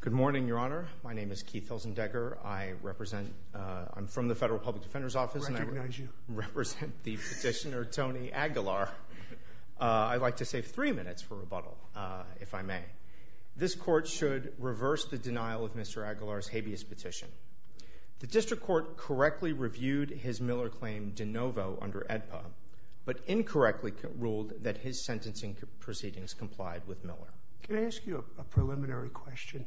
Good morning, Your Honor. My name is Keith Helsendegger. I represent, I'm from the Federal Public Defender's Office and I represent the petitioner, Tony Aguilar. I'd like to save three minutes for rebuttal, if I may. This court should reverse the denial of Mr. Aguilar's habeas petition. The district court correctly reviewed his Miller claim de novo under AEDPA, but incorrectly ruled that his sentencing proceedings complied with Miller. Can I ask you a preliminary question?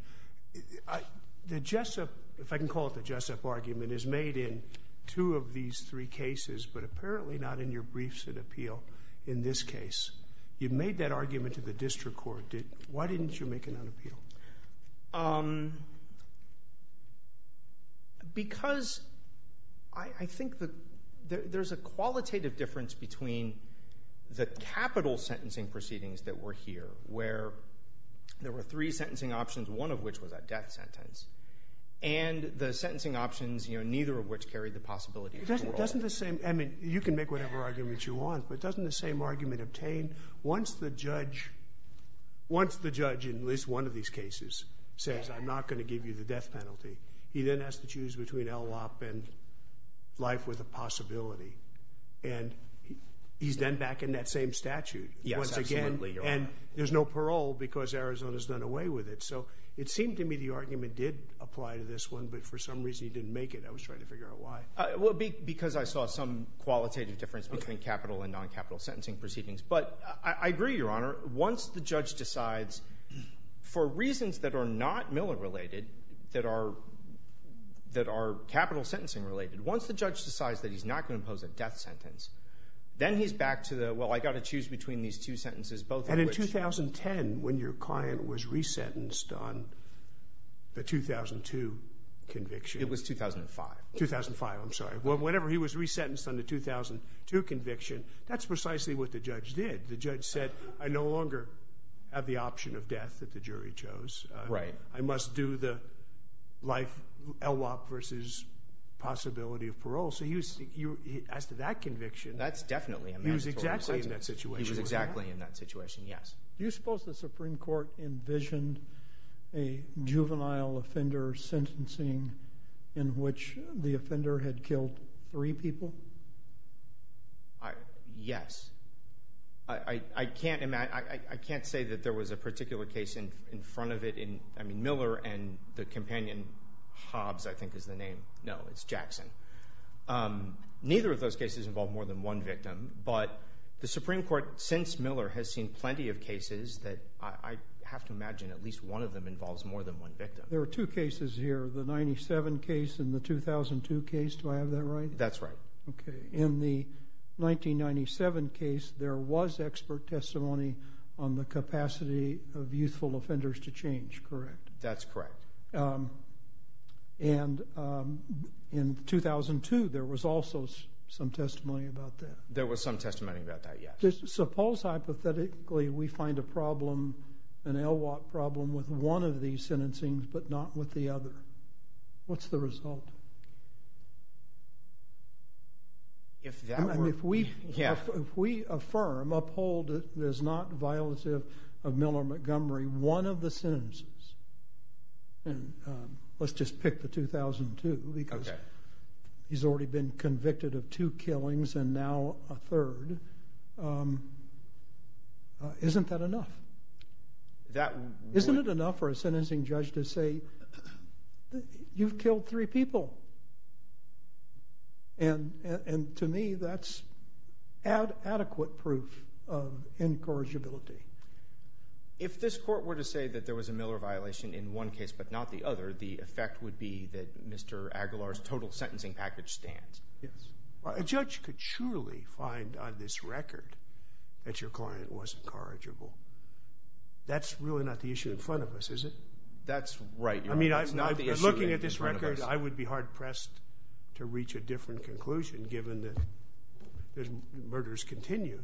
The Jessup, if I can call it the Jessup argument, is made in two of these three cases, but apparently not in your briefs at appeal in this case. You've made that argument to the district court. Why didn't you make it on appeal? Because I think that there's a qualitative difference between the capital sentencing proceedings that were here, where there were three sentencing options, one of which was a death sentence, and the sentencing options, you know, neither of which carried the possibility of parole. Doesn't the same, I mean, you can make whatever argument you want, but doesn't the same argument once the judge in at least one of these cases says, I'm not going to give you the death penalty, he then has to choose between LLOP and life with a possibility, and he's then back in that same statute once again, and there's no parole because Arizona's done away with it. So it seemed to me the argument did apply to this one, but for some reason he didn't make it. I was trying to figure out why. Well, because I saw some qualitative difference between capital and I agree, Your Honor, once the judge decides, for reasons that are not Miller related, that are capital sentencing related, once the judge decides that he's not going to impose a death sentence, then he's back to the, well, I've got to choose between these two sentences. And in 2010, when your client was resentenced on the 2002 conviction. It was 2005. 2005, I'm sorry. Well, whenever he was resentenced on the 2002 conviction, that's precisely what the judge did. The judge said, I no longer have the option of death that the jury chose. I must do the life LLOP versus possibility of parole. So as to that conviction. That's definitely a mandatory sentence. He was exactly in that situation. He was exactly in that situation, yes. Do you suppose the Supreme Court envisioned a juvenile offender sentencing in which the offender had killed three people? Yes. I can't say that there was a particular case in front of it. I mean, Miller and the companion Hobbs, I think is the name. No, it's Jackson. Neither of those cases involve more than one victim. But the Supreme Court, since Miller, has seen plenty of cases that I have to imagine at least one of them involves more than one victim. There are two cases here, the 97 case and the 2002 case. Do I have that right? That's right. In the 1997 case, there was expert testimony on the capacity of youthful offenders to change, correct? That's correct. And in 2002, there was also some testimony about that. There was some testimony about that, yes. Suppose, hypothetically, we find a problem, an LLOP problem, with one of these sentencing but not with the other. What's the result? If that were... And if we affirm, uphold, that there's not violative of Miller-Montgomery, one of the sentences, and let's just pick the 2002 because he's already been convicted of two killings and now a third, isn't that enough? Isn't it enough for a sentencing judge to say, look, you've killed three people? And to me, that's adequate proof of incorrigibility. If this court were to say that there was a Miller violation in one case but not the other, the effect would be that Mr. Aguilar's total sentencing package stands. Yes. A judge could surely find on this record that your client was incorrigible. That's really not the issue in front of us, is it? That's right, Your Honor. That's not the issue in front of us. Looking at this record, I would be hard-pressed to reach a different conclusion given that murders continue.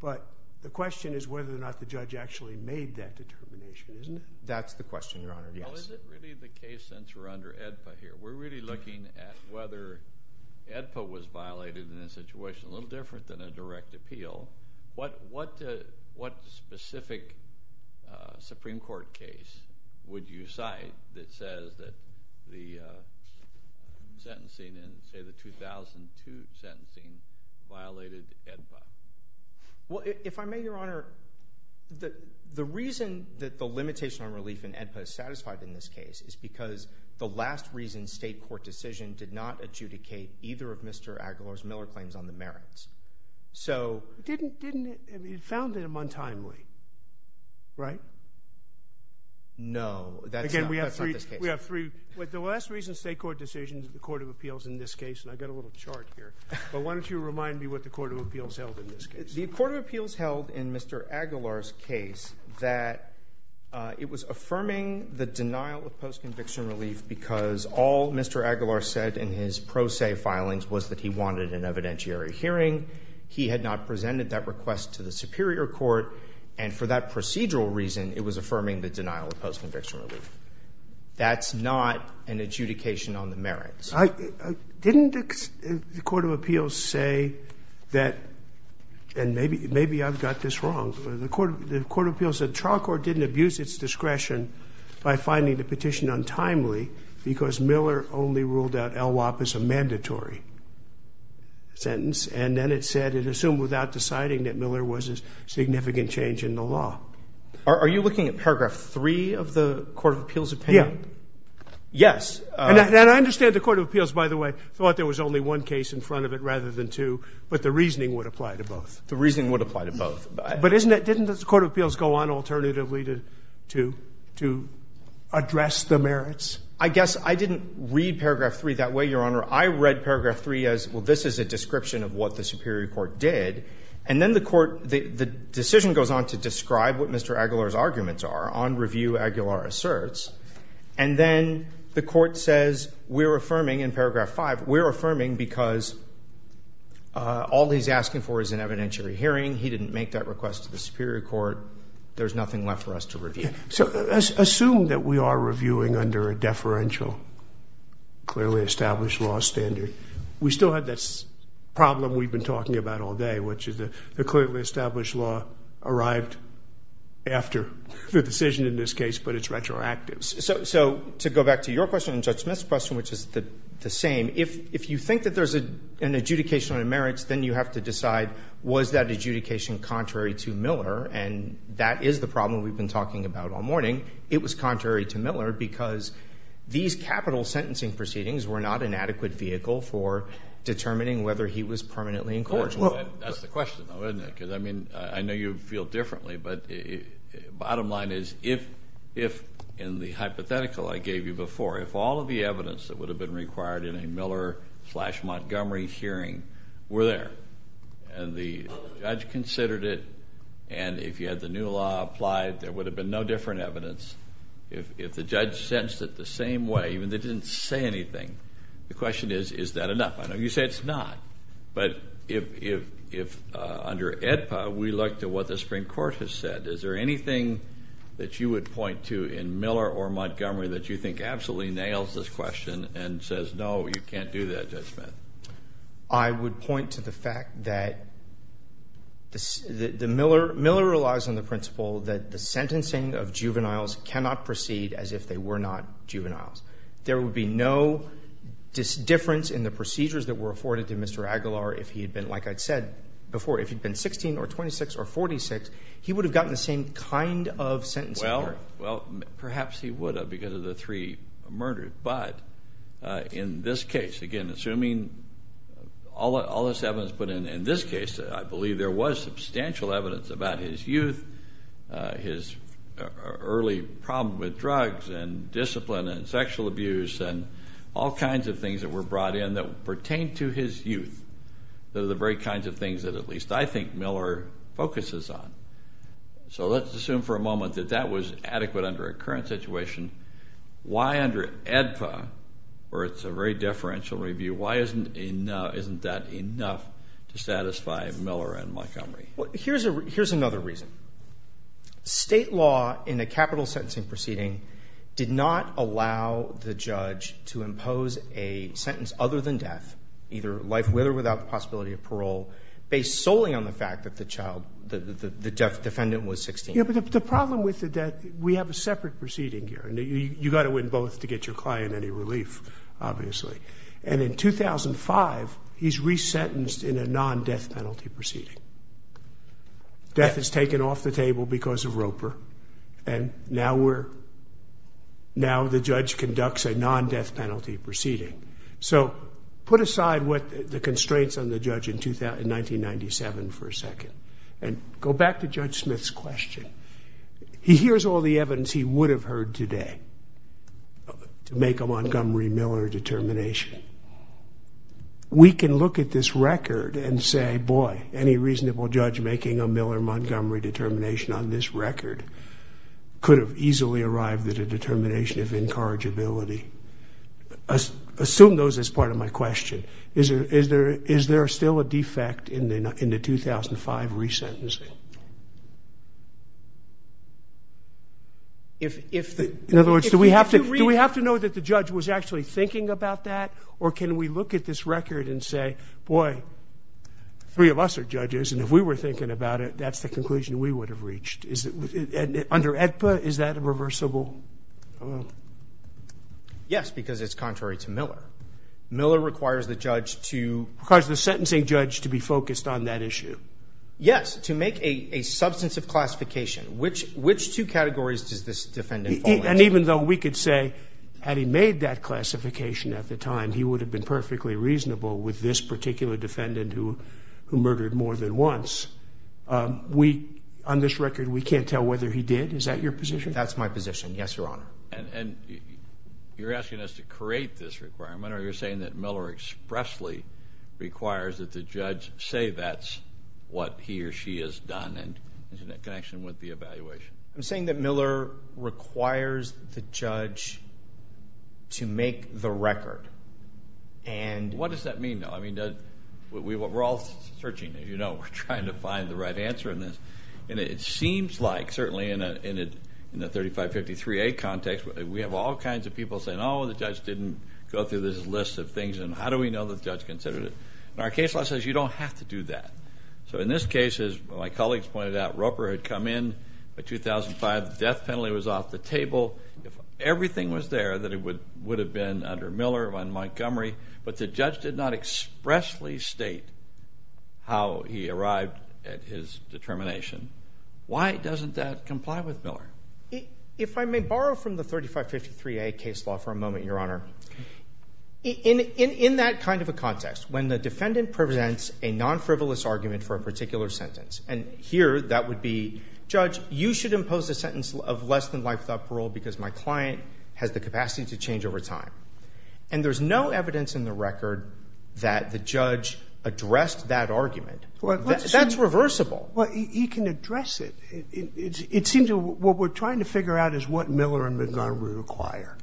But the question is whether or not the judge actually made that determination, isn't it? That's the question, Your Honor. Yes. Well, is it really the case since we're under AEDPA here? We're really looking at whether AEDPA was violated in a situation a little different than a direct appeal. What specific Supreme Court case would you cite that says that the sentencing in, say, the 2002 sentencing violated AEDPA? Well, if I may, Your Honor, the reason that the limitation on relief in AEDPA is satisfied in this case is because the last reason state court decision did not adjudicate either of Mr. Aguilar's or Mr. Miller's claims on the merits. Didn't it found him untimely, right? No, that's not the case. Again, we have three. The last reason state court decision to the Court of Appeals in this case, and I've got a little chart here, but why don't you remind me what the Court of Appeals held in this case? The Court of Appeals held in Mr. Aguilar's case that it was affirming the denial of post-conviction relief because all Mr. Aguilar said in his pro se filings was that he wanted an evidentiary hearing. He had not presented that request to the Superior Court, and for that procedural reason, it was affirming the denial of post-conviction relief. That's not an adjudication on the merits. Didn't the Court of Appeals say that, and maybe I've got this wrong, the Court of Appeals said because Miller only ruled out LWAP as a mandatory sentence, and then it said it assumed without deciding that Miller was a significant change in the law. Are you looking at paragraph three of the Court of Appeals opinion? Yes. And I understand the Court of Appeals, by the way, thought there was only one case in front of it rather than two, but the reasoning would apply to both. The reasoning would apply to both. But didn't the Court of Appeals go on alternatively to address the merits? I guess I didn't read paragraph three that way, Your Honor. I read paragraph three as, well, this is a description of what the Superior Court did, and then the decision goes on to describe what Mr. Aguilar's arguments are on review Aguilar asserts, and then the Court says we're affirming in paragraph five, we're affirming because all he's asking for is an evidentiary hearing. He didn't make that request to the Superior Court. There's nothing left for us to review. So assume that we are reviewing under a deferential, clearly established law standard. We still have this problem we've been talking about all day, which is the clearly established law arrived after the decision in this case, but it's retroactive. So to go back to your question and Judge Smith's question, which is the same, if you think that there's an adjudication on the merits, then you have to decide was that adjudication contrary to Miller, and that is the argument we've been talking about all morning, it was contrary to Miller because these capital sentencing proceedings were not an adequate vehicle for determining whether he was permanently in court. That's the question though, isn't it? Because I mean, I know you feel differently, but bottom line is, if in the hypothetical I gave you before, if all of the evidence that would have been required in a Miller slash Montgomery hearing were there, and the judge considered it, and if you had the new law applied, there would have been no different evidence. If the judge sentenced it the same way, even if they didn't say anything, the question is, is that enough? I know you say it's not, but if under AEDPA, we look to what the Supreme Court has said, is there anything that you would point to in Miller or Montgomery that you think absolutely nails this question and says, no, you can't do that, Judge Smith? I would point to the fact that the Miller relies on the principle that the sentencing of juveniles cannot proceed as if they were not juveniles. There would be no difference in the procedures that were afforded to Mr. Aguilar if he had been, like I'd said before, if he'd been 16 or 26 or 46, he would have gotten the same kind of sentencing. Well, perhaps he would have because of the three murders, but in this case, again, assuming all this evidence put in, in this case, I believe there was substantial evidence about his youth, his early problem with drugs and discipline and sexual abuse and all kinds of things that were brought in that pertained to his youth. Those are the very kinds of things that at least I think Miller focuses on. So let's assume for a moment that that was adequate under a current situation. Why under AEDPA, where it's a very differential review, why isn't that enough to satisfy Miller and Montgomery? Here's another reason. State law in a capital sentencing proceeding did not allow the judge to impose a sentence other than death, either life with or without the possibility of parole, based solely on the fact that the defendant was 16. Yeah, but the problem with the death, we have a separate proceeding here, and you got to win both to get your client any relief, obviously. And in 2005, he's resentenced in a non-death penalty proceeding. Death is taken off the table because of Roper, and now we're, now the judge conducts a non-death penalty proceeding. So put aside what the constraints on the judge in 1997 for a second, and go back to Judge Smith's question. He hears all the evidence he would have heard today to make a Montgomery-Miller determination. We can look at this record and say, boy, any reasonable judge making a Miller-Montgomery determination on this record could have easily arrived at a determination of incorrigibility. Assume those as part of my question. Is there still a defect in the 2005 resentencing? In other words, do we have to know that the judge was actually thinking about that, or can we look at this record and say, boy, three of us are judges, and if we were thinking about it, that's the conclusion we would have reached. Under AEDPA, is that reversible? Yes, because it's contrary to Miller. Miller requires the judge to... Requires the sentencing judge to be focused on that issue. Yes, to make a substantive classification. Which two categories does this defendant fall into? And even though we could say, had he made that classification at the time, he would have been perfectly reasonable with this particular defendant who murdered more than once. On this record, we can't tell whether he did. Is that your position? That's my position. Yes, Your Honor. And you're asking us to create this requirement, or you're saying that Miller expressly requires that the judge say that's what he or she has done, and is it in connection with the evaluation? I'm saying that Miller requires the judge to make the record, and... What does that mean, though? I mean, we're all searching. We're trying to find the right answer in this. And it seems like, certainly in the 3553A context, we have all kinds of people saying, oh, the judge didn't go through this list of things, and how do we know the judge considered it? And our case law says you don't have to do that. So in this case, as my colleagues pointed out, Roper had come in by 2005. The death penalty was off the table. If everything was there, then it would have been under Miller, under Montgomery. But the judge did not expressly state how he arrived at his determination. Why doesn't that comply with Miller? If I may borrow from the 3553A case law for a moment, Your Honor. In that kind of a context, when the defendant presents a non-frivolous argument for a particular sentence, and here that would be, judge, you should impose a sentence of less than life without parole because my client has the capacity to change over time. And there's no evidence in the record that the judge addressed that argument. That's reversible. Well, he can address it. It seems what we're trying to figure out is what Miller and Montgomery require.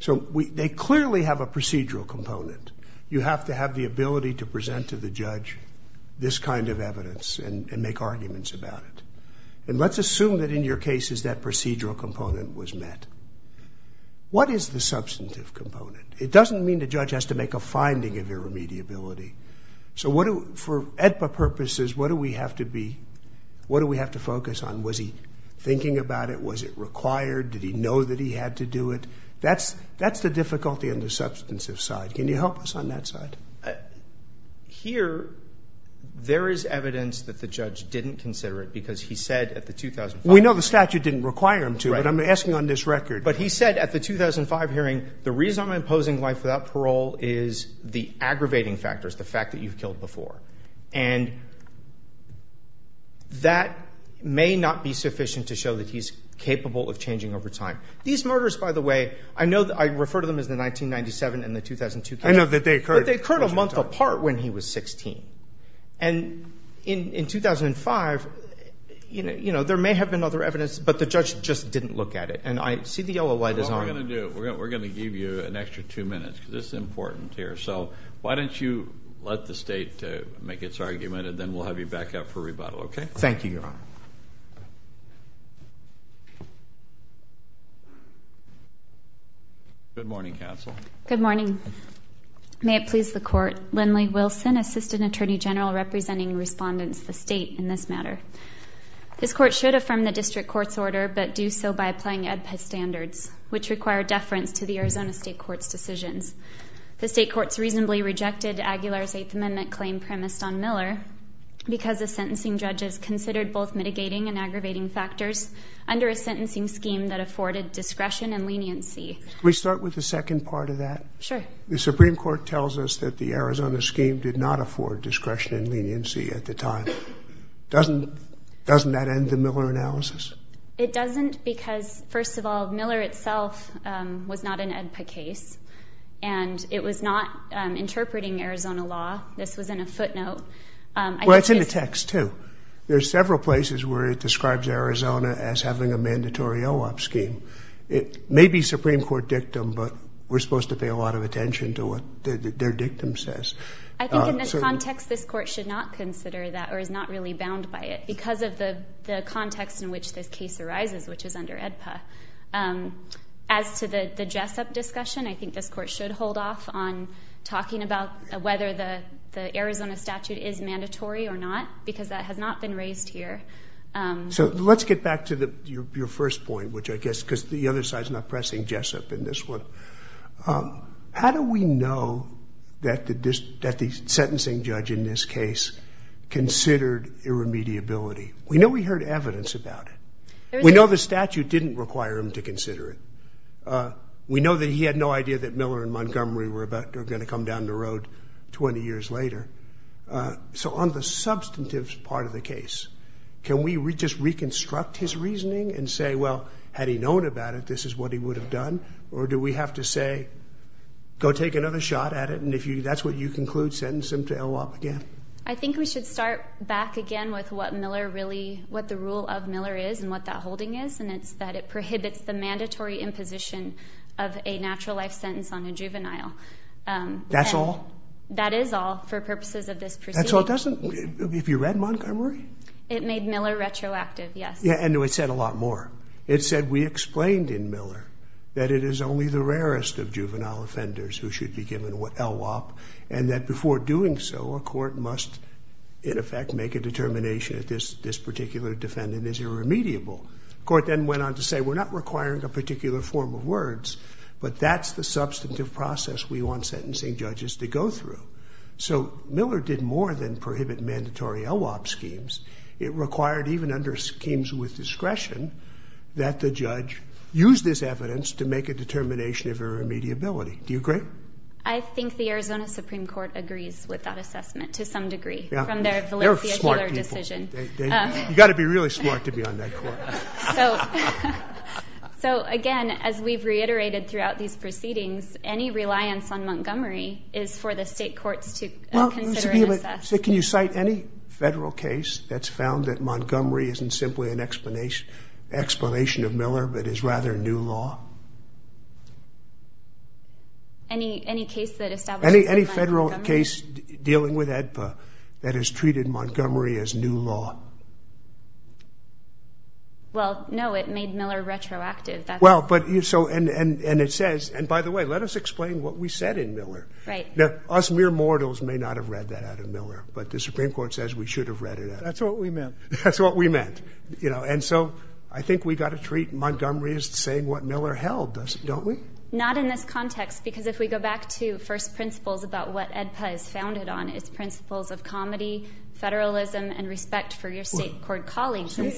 So they clearly have a procedural component. You have to have the ability to present to the judge this kind of evidence and make arguments about it. And let's assume that in your cases, that procedural component was met. What is the substantive component? It doesn't mean the judge has to a finding of irremediability. So for AEDPA purposes, what do we have to focus on? Was he thinking about it? Was it required? Did he know that he had to do it? That's the difficulty on the substantive side. Can you help us on that side? Here, there is evidence that the judge didn't consider it because he said at the 2005... We know the statute didn't require him to, but I'm asking on this record. But he said at the 2005 hearing, the reason I'm imposing life parole is the aggravating factors, the fact that you've killed before. And that may not be sufficient to show that he's capable of changing over time. These murders, by the way, I know that I refer to them as the 1997 and the 2002 cases. I know that they occurred. But they occurred a month apart when he was 16. And in 2005, there may have been other evidence, but the judge just didn't look at it. And I see the yellow light is on. We're going to give you an extra two minutes because this is important here. So why don't you let the state make its argument, and then we'll have you back up for rebuttal, okay? Thank you, Your Honor. Good morning, counsel. Good morning. May it please the court. Lindley Wilson, Assistant Attorney General, representing respondents of the state in this matter. This court should affirm the district court's order, but do so by applying EdPET standards, which require deference to the The state courts reasonably rejected Aguilar's Eighth Amendment claim premised on Miller because the sentencing judges considered both mitigating and aggravating factors under a sentencing scheme that afforded discretion and leniency. We start with the second part of that. Sure. The Supreme Court tells us that the Arizona scheme did not afford discretion and leniency at the time. Doesn't that end the Miller analysis? It doesn't because, first of all, Miller itself was not an EdPA case, and it was not interpreting Arizona law. This was in a footnote. Well, it's in the text too. There's several places where it describes Arizona as having a mandatory OOP scheme. It may be Supreme Court dictum, but we're supposed to pay a lot of attention to what their dictum says. I think in this context, this court should not consider that or is not really bound by it because of the context in which this case arises, which is under EdPA. As to the Jessup discussion, I think this court should hold off on talking about whether the Arizona statute is mandatory or not, because that has not been raised here. So let's get back to your first point, which I guess because the other side is not pressing Jessup in this one. How do we know that the sentencing judge in this case considered irremediability? We know we heard evidence about it. We know the statute didn't require him to consider it. We know that he had no idea that Miller and Montgomery were going to come down the road 20 years later. So on the substantive part of the case, can we just reconstruct his reasoning and say, well, had he known about it, this is what he would have done? Or do we have to say, go take another shot at it, and if that's what you conclude, sentence him to LOP again? I think we should start back again with what the rule of Miller is and what that holding is, and it's that it prohibits the mandatory imposition of a natural life sentence on a juvenile. That's all? That is all for purposes of this proceeding. That's all it doesn't? Have you read Montgomery? It made Miller retroactive, yes. Yeah, and it said a lot more. It said, we explained in Miller that it is only the in effect make a determination that this particular defendant is irremediable. Court then went on to say, we're not requiring a particular form of words, but that's the substantive process we want sentencing judges to go through. So Miller did more than prohibit mandatory LOP schemes. It required even under schemes with discretion that the judge use this evidence to make a determination of irremediability. Do you agree? I think the Arizona Supreme Court agrees with that assessment to some degree. You got to be really smart to be on that court. So again, as we've reiterated throughout these proceedings, any reliance on Montgomery is for the state courts to consider and assess. Can you cite any federal case that's found that Montgomery isn't simply an explanation of Miller, but is rather new law? Any case that establishes that Montgomery is new law? Any federal case dealing with AEDPA that has treated Montgomery as new law? Well, no, it made Miller retroactive. Well, but you so, and it says, and by the way, let us explain what we said in Miller. Right. Now, us mere mortals may not have read that out of Miller, but the Supreme Court says we should have read it out. That's what we meant. That's what we meant. You know, and so I think we got to treat Montgomery as saying what Miller held, don't we? Not in this context, because if we go back to first principles about what AEDPA is founded on, it's principles of comedy, federalism, and respect for your state court colleagues. In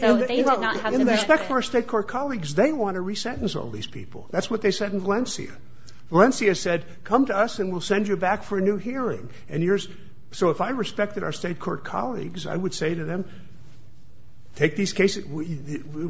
respect for our state court colleagues, they want to re-sentence all these people. That's what they said in Valencia. Valencia said, come to us and we'll send you back for a new hearing. So if I respected our state court colleagues, I would say to them, take these cases,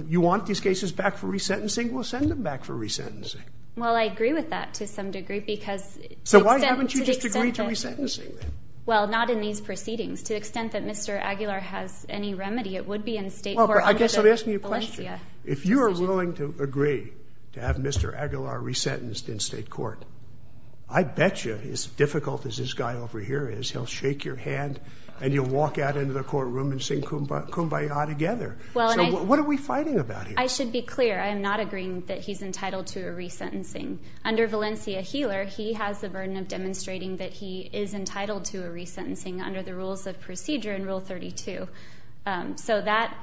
you want these cases back for re-sentencing? We'll send them back for re-sentencing. Well, I agree with that to some degree because... So why haven't you just agreed to re-sentencing then? Well, not in these proceedings. To the extent that Mr. Aguilar has any remedy, it would be in state court under Valencia. I guess I'm asking you a question. If you are willing to agree to have Mr. Aguilar re-sentenced in state court, I bet you as difficult as this guy over here is, he'll shake your hand and you'll walk out into the courtroom and sing kumbaya together. So what are we fighting about here? I should be clear. I am not agreeing that he's entitled to a re-sentencing. Under Valencia-Heeler, he has the burden of demonstrating that he is entitled to a re-sentencing under the rules of procedure in Rule 32. So that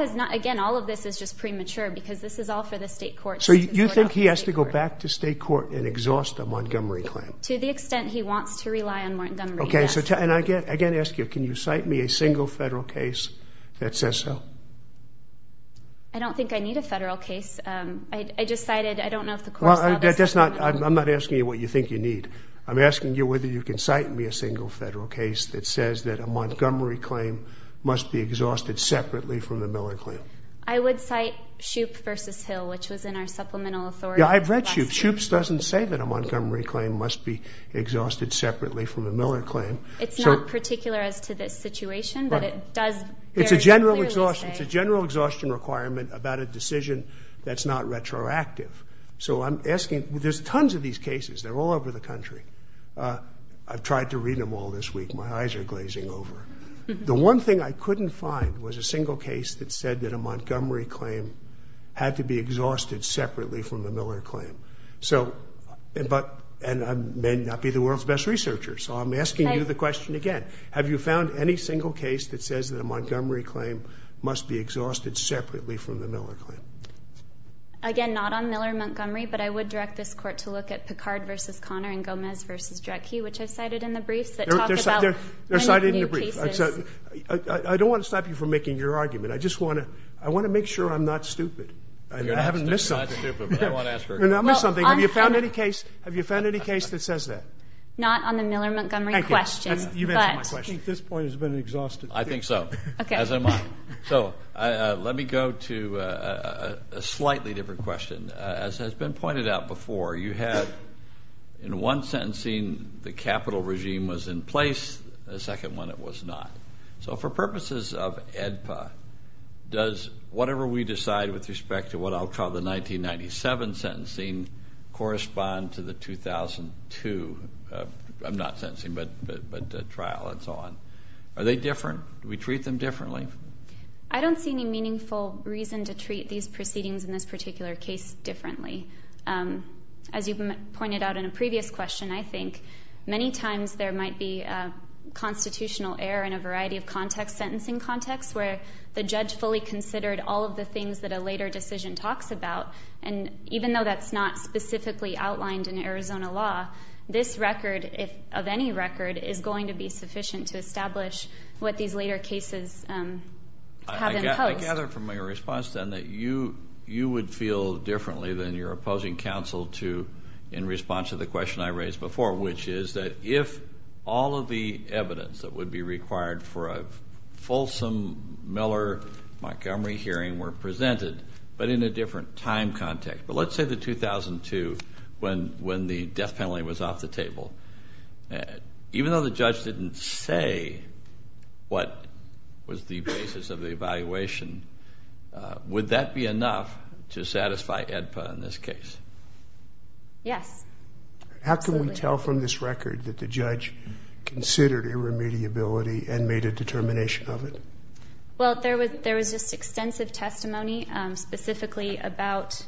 is not... Again, all of this is just premature because this is all for the state court. So you think he has to go back to state court and exhaust the Montgomery claim? To the extent he wants to rely on Montgomery, yes. And again, I ask you, can you cite me a single federal case that says so? I don't think I need a federal case. I just cited... I don't know if the court... Well, I'm not asking you what you think you need. I'm asking you whether you can cite me a single federal case that says that a Montgomery claim must be exhausted separately from the Miller claim. I would cite Shoup v. Hill, which was in our supplemental authority. Yeah, I've read Shoup's. Shoup's doesn't say that a Montgomery claim must be It's not particular as to this situation, but it does very clearly say... It's a general exhaustion requirement about a decision that's not retroactive. So I'm asking... There's tons of these cases. They're all over the country. I've tried to read them all this week. My eyes are glazing over. The one thing I couldn't find was a single case that said that a Montgomery claim had to be exhausted separately from the Miller claim. And I may not be the world's best researcher. So I'm asking you the question again. Have you found any single case that says that a Montgomery claim must be exhausted separately from the Miller claim? Again, not on Miller-Montgomery. But I would direct this court to look at Picard v. Connor and Gomez v. Drecke, which I've cited in the briefs that talk about many new cases. They're cited in the briefs. I don't want to stop you from making your argument. I just want to make sure I'm not stupid. You're not stupid, but I want to ask her. You're not missing something. Have you found any case that says that? Not on the Miller-Montgomery question. I think this point has been exhausted. I think so, as I might. So let me go to a slightly different question. As has been pointed out before, you had, in one sentencing, the capital regime was in place. The second one, it was not. So for purposes of AEDPA, does whatever we decide with respect to what I'll call the 1997 sentencing correspond to the 2002, I'm not sentencing, but trial and so on? Are they different? Do we treat them differently? I don't see any meaningful reason to treat these proceedings in this particular case differently. As you pointed out in a previous question, I think many times there might be constitutional error in a variety of contexts, sentencing contexts, where the judge fully considered all of the things that a later decision talks about, and even though that's not specifically outlined in Arizona law, this record, of any record, is going to be sufficient to establish what these later cases have imposed. I gather from your response, then, that you would feel differently than your opposing counsel to, in response to the question I raised before, which is that if all of the were presented, but in a different time context. But let's say the 2002, when the death penalty was off the table. Even though the judge didn't say what was the basis of the evaluation, would that be enough to satisfy AEDPA in this case? Yes. How can we tell from this record that the judge considered irremediability and made a determination of it? Well, there was just extensive testimony, specifically about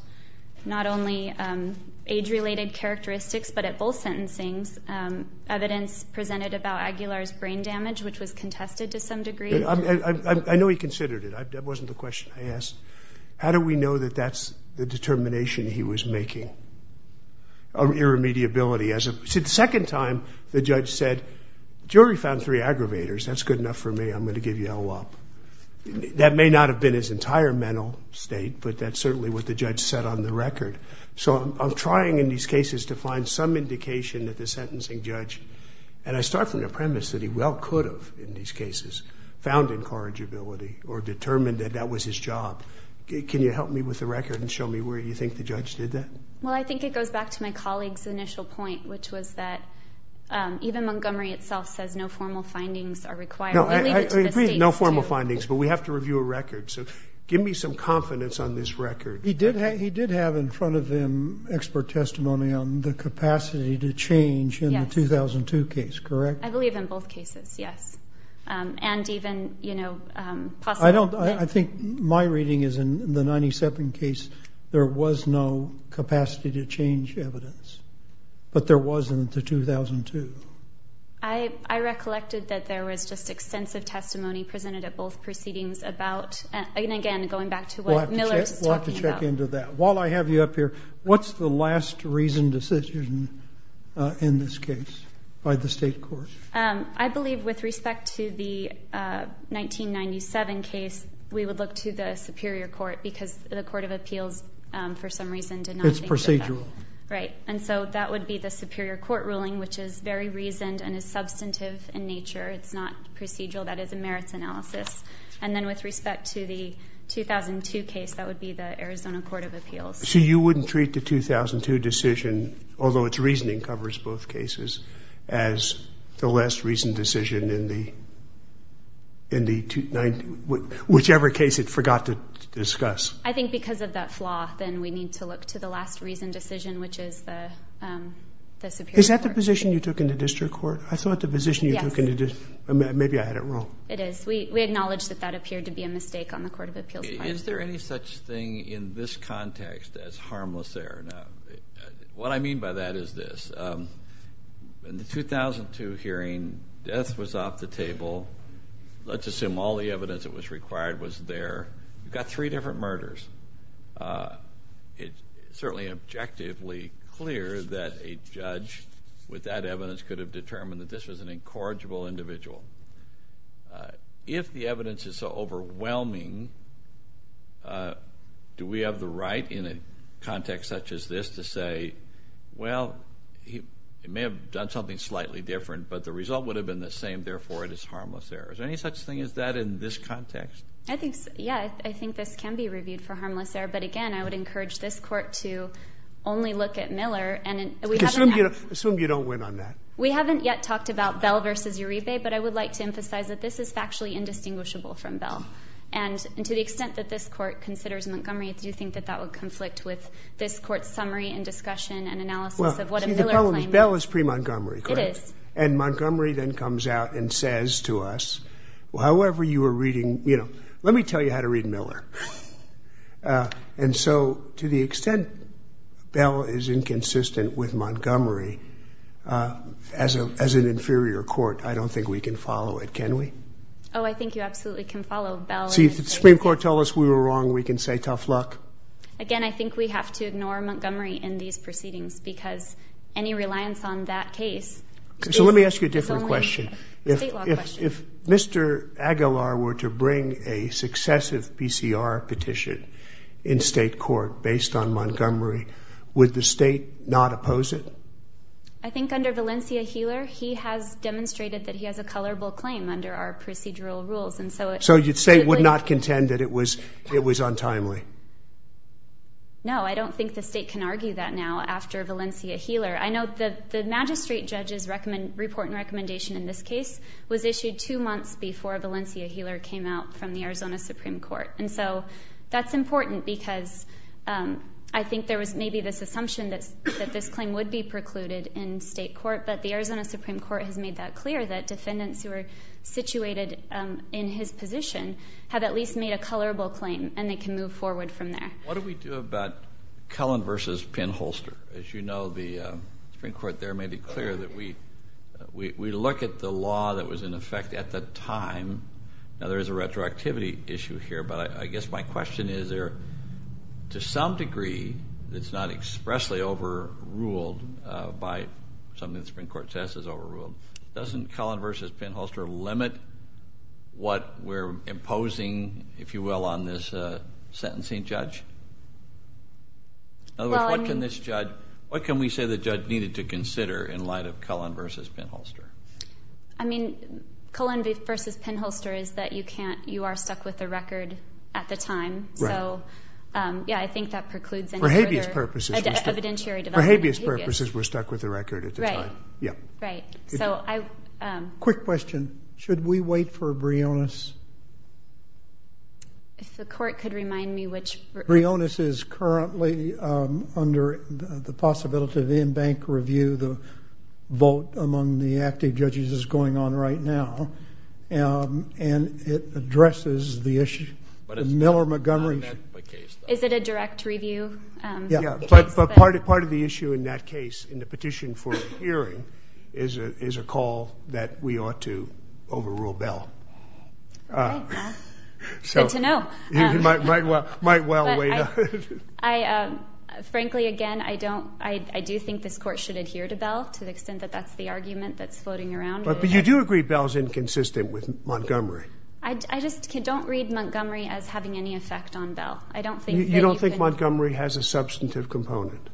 not only age-related characteristics, but at both sentencings, evidence presented about Aguilar's brain damage, which was contested to some degree. I know he considered it. That wasn't the question I asked. How do we know that that's the determination he was making, of irremediability? As a second time, the judge said, jury found three aggravators. That's good enough for me. I'm going to give you a whole lot. That may not have been his entire mental state, but that's certainly what the judge said on the record. So I'm trying in these cases to find some indication that the sentencing judge, and I start from the premise that he well could have, in these cases, found incorrigibility or determined that that was his job. Can you help me with the record and show me where you think the judge did that? Well, I think it goes back to my colleague's initial point, which was that even Montgomery itself says no formal findings are required. No formal findings. But we have to review a record. So give me some confidence on this record. He did have in front of him expert testimony on the capacity to change in the 2002 case, correct? I believe in both cases, yes. And even, you know, I think my reading is in the 97 case, there was no capacity to change evidence. But there was in the 2002. I recollected that there was just extensive testimony presented at both proceedings about, and again, going back to what Miller is talking about. We'll have to check into that. While I have you up here, what's the last reasoned decision in this case by the state court? I believe with respect to the 1997 case, we would look to the Superior Court because the Court of Appeals, for some reason, did not think that. It's procedural. Right. And so that would be the Superior Court ruling, which is very reasoned and is substantive in nature. It's not procedural. That is a merits analysis. And then with respect to the 2002 case, that would be the Arizona Court of Appeals. So you wouldn't treat the 2002 decision, although its reasoning covers both cases, I think because of that flaw, then we need to look to the last reasoned decision, which is the Superior Court. Is that the position you took in the district court? I thought the position you took in the district, maybe I had it wrong. It is. We acknowledge that that appeared to be a mistake on the Court of Appeals part. Is there any such thing in this context as harmless error? What I mean by that is this. In the 2002 hearing, death was off the table. Let's assume all the evidence that was required was there. You've got three different murders. It's certainly objectively clear that a judge with that evidence could have determined that this was an incorrigible individual. If the evidence is so overwhelming, do we have the right in a context such as this to say, well, he may have done something slightly different, but the result would have been the same, therefore it is harmless error. Is there any such thing as that in this context? Yeah, I think this can be reviewed for harmless error. But again, I would encourage this court to only look at Miller. Assume you don't win on that. We haven't yet talked about Bell v. Uribe, but I would like to emphasize that this is factually indistinguishable from Bell. To the extent that this court considers Montgomery, do you think that that would conflict with this court's summary and discussion and analysis of what a Miller claim is? Bell is pre-Montgomery, correct? It is. And Montgomery then comes out and says to us, however you were reading, you know, let me tell you how to read Miller. And so to the extent Bell is inconsistent with Montgomery as an inferior court, I don't think we can follow it. Can we? Oh, I think you absolutely can follow Bell. See, if the Supreme Court tells us we were wrong, we can say tough luck. Again, I think we have to ignore Montgomery in these proceedings because any reliance on that case is only a state law question. So let me ask you a different question. If Mr. Aguilar were to bring a successive PCR petition in state court based on Montgomery, would the state not oppose it? I think under Valencia Heeler, he has demonstrated that he has a colorable claim under our procedural rules. And so you'd say it would not contend that it was untimely? No, I don't think the state can argue that now after Valencia Heeler. I know the magistrate judge's report and recommendation in this case was issued two months before Valencia Heeler came out from the Arizona Supreme Court. And so that's important because I think there was maybe this assumption that this claim would be precluded in state court. But the Arizona Supreme Court has made that clear that defendants who are situated in his position have at least made a colorable claim and they can move forward from there. What do we do about Cullen versus Penn-Holster? As you know, the Supreme Court there made it clear that we look at the law that was in effect at the time. Now, there is a retroactivity issue here. But I guess my question is, to some degree, it's not expressly overruled by something the Supreme Court says is overruled. Doesn't Cullen versus Penn-Holster limit what we're imposing, if you will, on this sentencing judge? In other words, what can we say the judge needed to consider in light of Cullen versus Penn-Holster? I mean, Cullen versus Penn-Holster is that you are stuck with the record at the time. So, yeah, I think that precludes any further evidentiary development. For habeas purposes, we're stuck with the record at the time. Right. Yeah. Right. So I... Quick question. Should we wait for a brilliance? If the court could remind me which... Brilliance. Brilliance is currently under the possibility of in-bank review. The vote among the active judges is going on right now. And it addresses the issue. But it's not in that case, though. Is it a direct review? Yeah. But part of the issue in that case, in the petition for a hearing, is a call that we ought to overrule Bell. Good to know. Might well wait. Frankly, again, I do think this court should adhere to Bell to the extent that that's the argument that's floating around. But you do agree Bell's inconsistent with Montgomery. I just don't read Montgomery as having any effect on Bell. I don't think... You don't think Montgomery has a substantive component?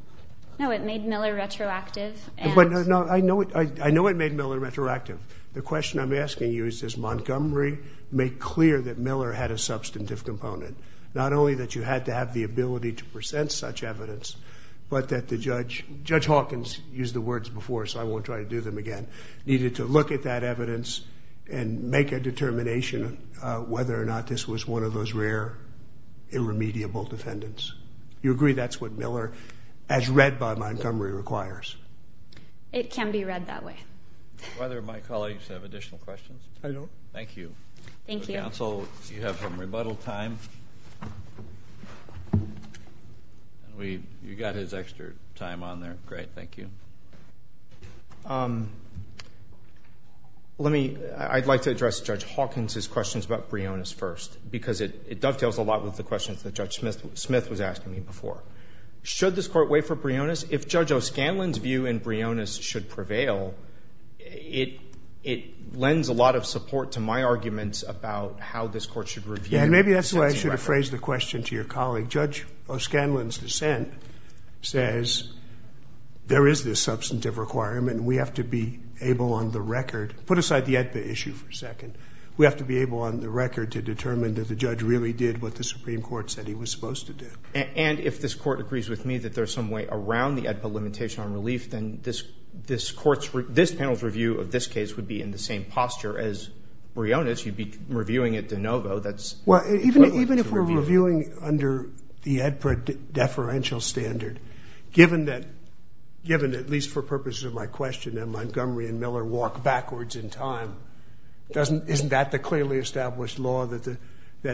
No, it made Miller retroactive. But I know it made Miller retroactive. The question I'm asking you is, does Montgomery make clear that Miller had a substantive component? Not only that you had to have the ability to present such evidence, but that the judge... Judge Hawkins used the words before, so I won't try to do them again. Needed to look at that evidence and make a determination whether or not this was one of those rare, irremediable defendants. You agree that's what Miller, as read by Montgomery, requires? It can be read that way. Do either of my colleagues have additional questions? I don't. Thank you. Thank you. Counsel, you have some rebuttal time. You got his extra time on there. Great, thank you. I'd like to address Judge Hawkins' questions about Brionis first, because it dovetails a lot with the questions that Judge Smith was asking me before. Should this court wait for Brionis? If Judge O'Scanlan's view in Brionis should prevail, it lends a lot of support to my arguments about how this court should review... Yeah, and maybe that's why I should have phrased the question to your colleague. Judge O'Scanlan's dissent says there is this substantive requirement, and we have to be able on the record... Put aside the AEDPA issue for a second. We have to be able on the record to determine that the judge really did what the Supreme Court said he was supposed to do. And if this court agrees with me that there's some way around the AEDPA limitation on relief, then this panel's review of this case would be in the same posture as Brionis. You'd be reviewing it de novo. That's... Well, even if we're reviewing under the AEDPA deferential standard, given that, at least for purposes of my question, that Montgomery and Miller walk backwards in time, isn't that the clearly established law that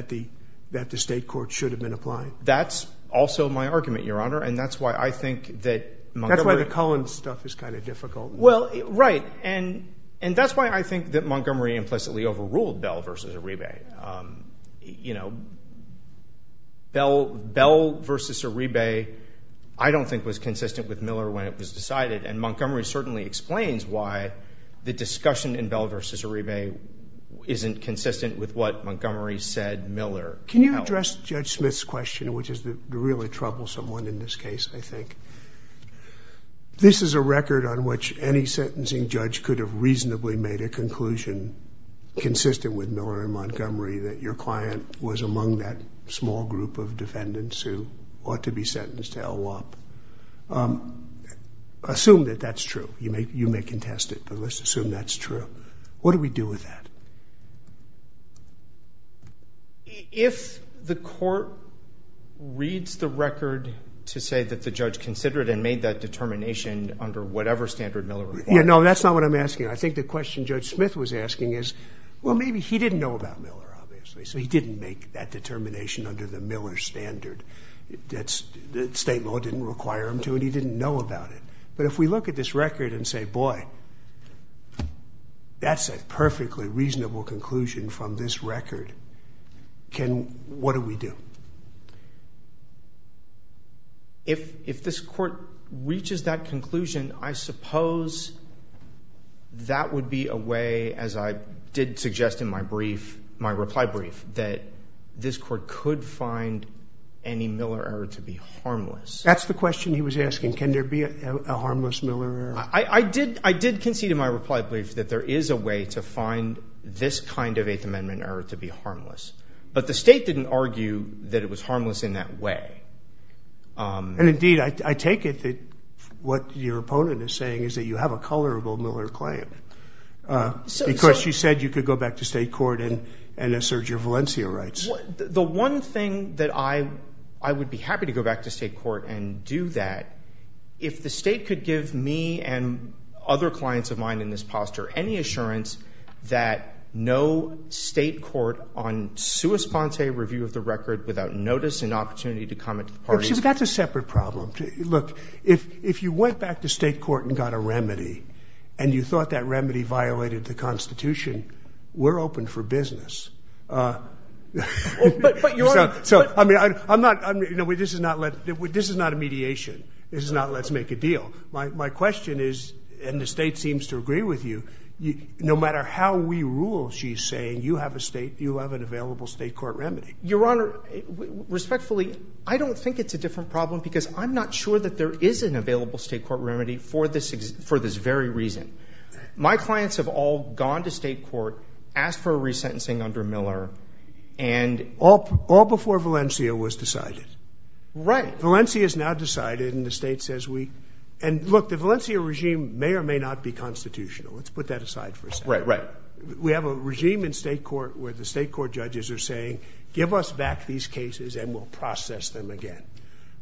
the state court should have been applying? That's also my argument, Your Honor, and that's why I think that Montgomery... That's why the Cohen stuff is kind of difficult. Well, right, and that's why I think that Montgomery implicitly overruled Bell v. Arebe. Bell v. Arebe I don't think was consistent with Miller when it was decided, and Montgomery certainly explains why the discussion in Bell v. Arebe isn't consistent with what Montgomery said Miller... Can you address Judge Smith's question, which is the really troublesome one in this Any sentencing judge could have reasonably made a conclusion consistent with Miller and Montgomery that your client was among that small group of defendants who ought to be sentenced to LWOP. Assume that that's true. You may contest it, but let's assume that's true. What do we do with that? If the court reads the record to say that the judge considered and made that determination under whatever standard Miller required... Yeah, no, that's not what I'm asking. I think the question Judge Smith was asking is, well, maybe he didn't know about Miller, obviously, so he didn't make that determination under the Miller standard. State law didn't require him to, and he didn't know about it, but if we look at this record and say, boy, that's a perfectly reasonable conclusion from this record, what do we do? If this court reaches that conclusion, I suppose that would be a way, as I did suggest in my brief, my reply brief, that this court could find any Miller error to be harmless. That's the question he was asking. Can there be a harmless Miller error? I did concede in my reply brief that there is a way to find this kind of Eighth Amendment error to be harmless, but the state didn't argue that there was a way to find that. That it was harmless in that way. And indeed, I take it that what your opponent is saying is that you have a colorable Miller claim because you said you could go back to state court and assert your Valencia rights. The one thing that I would be happy to go back to state court and do that, if the state could give me and other clients of mine in this posture any assurance that no state court on sua sponte review of the record without notice and opportunity to comment to the parties. That's a separate problem. Look, if you went back to state court and got a remedy and you thought that remedy violated the Constitution, we're open for business. So, I mean, this is not a mediation. This is not let's make a deal. My question is, and the state seems to agree with you, no matter how we rule, she's saying you have a state, you have an available state court remedy. Your Honor, respectfully, I don't think it's a different problem because I'm not sure that there is an available state court remedy for this very reason. My clients have all gone to state court, asked for a resentencing under Miller, and. All before Valencia was decided. Right. Valencia is now decided and the state says we, and look, the Valencia regime may or may not be constitutional. Let's put that aside for a second. Right, right. We have a regime in state court where the state court judges are saying, give us back these cases and we'll process them again.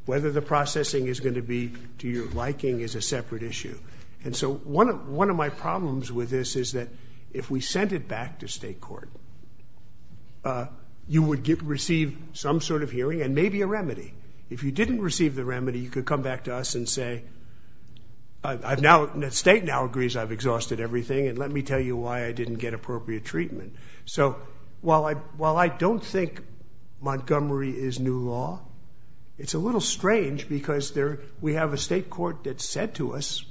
Whether the processing is going to be to your liking is a separate issue. And so one of my problems with this is that if we sent it back to state court, you would receive some sort of hearing and maybe a remedy. If you didn't receive the remedy, you could come back to us and say, I've now, the state now agrees I've exhausted everything and let me tell you why I didn't get appropriate treatment. So while I, while I don't think Montgomery is new law, it's a little strange because there, we have a state court that said to us,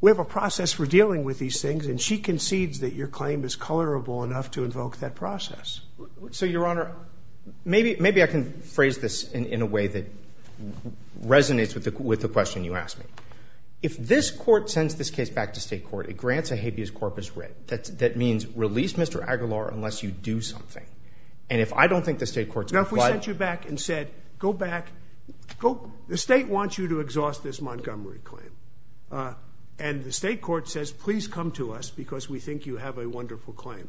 we have a process for dealing with these things. And she concedes that your claim is colorable enough to invoke that process. So, Your Honor, maybe, maybe I can phrase this in a way that resonates with the, with the question you asked me. If this court sends this case back to state court, it grants a habeas corpus writ. That's, that means release Mr. Aguilar unless you do something. And if I don't think the state court's going to flood. Now, if we sent you back and said, go back, go, the state wants you to exhaust this Montgomery claim. And the state court says, please come to us because we think you have a wonderful claim.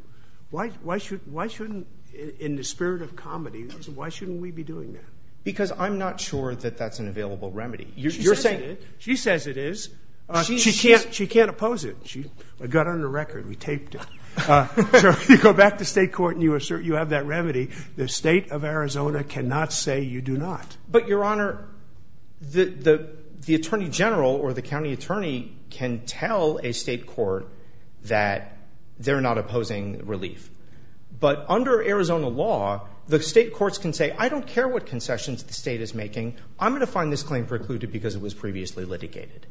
Why, why should, why shouldn't, in the spirit of comedy, why shouldn't we be doing that? Because I'm not sure that that's an available remedy. She says it is. She can't oppose it. She got on the record. We taped it. You go back to state court and you assert you have that remedy. The state of Arizona cannot say you do not. But Your Honor, the, the, the attorney general or the county attorney can tell a state court that they're not opposing relief. But under Arizona law, the state courts can say, I don't care what concessions the state is making. I'm going to find this claim precluded because it was previously litigated.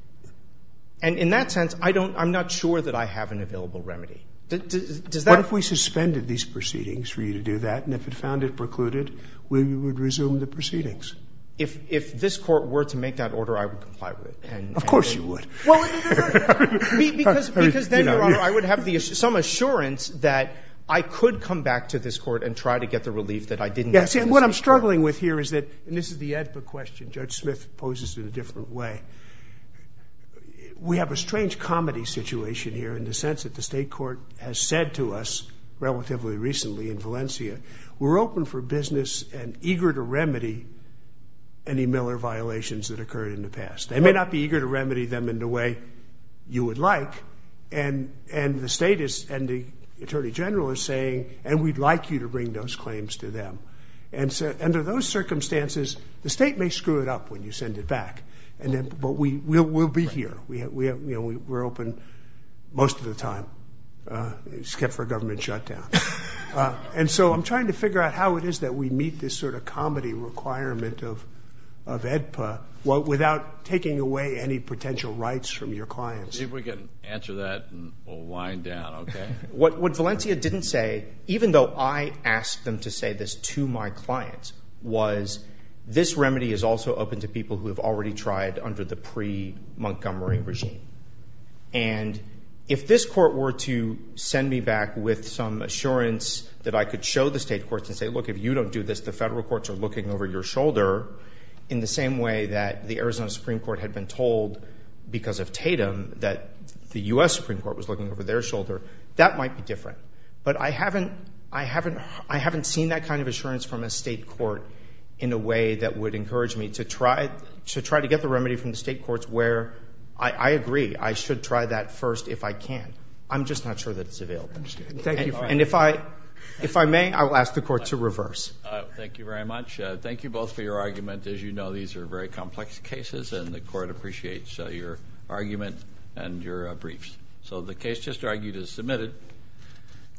And in that sense, I don't, I'm not sure that I have an available remedy. Does, does that? What if we suspended these proceedings for you to do that? And if it found it precluded, we would resume the proceedings. If, if this court were to make that order, I would comply with it. Of course you would. Because, because then, Your Honor, I would have some assurance that I could come back to this court and try to get the relief that I didn't. What I'm struggling with here is that, and this is the Edpa question Judge Smith poses in a different way. We have a strange comedy situation here in the sense that the state court has said to us relatively recently in Valencia, we're open for business and eager to remedy any Miller violations that occurred in the past. They may not be eager to remedy them in the way you would like. And, and the state is, and the attorney general is saying, and we'd like you to bring those claims to them. And so under those circumstances, the state may screw it up when you send it back. And then, but we, we'll, we'll be here. We have, we have, you know, we're open most of the time. It's kept for a government shutdown. And so I'm trying to figure out how it is that we meet this sort of comedy requirement of, of Edpa without taking away any potential rights from your clients. See if we can answer that and we'll wind down. Okay. What, what Valencia didn't say, even though I asked them to say this to my clients was this remedy is also open to people who have already tried under the pre Montgomery regime. And if this court were to send me back with some assurance that I could show the state courts and say, look, if you don't do this, the federal courts are looking over your shoulder in the same way that the Arizona Supreme court had been told because of Tatum that the U.S. Supreme court was looking over their shoulder. That might be different, but I haven't, I haven't, I haven't seen that kind of assurance from a state court in a way that would encourage me to try to try to get the remedy from the state courts where I agree. I should try that first. If I can, I'm just not sure that it's available. And if I, if I may, I will ask the court to reverse. Thank you very much. Thank you both for your argument. As you know, these are very complex cases and the court appreciates your argument and your briefs. So the case just argued is submitted.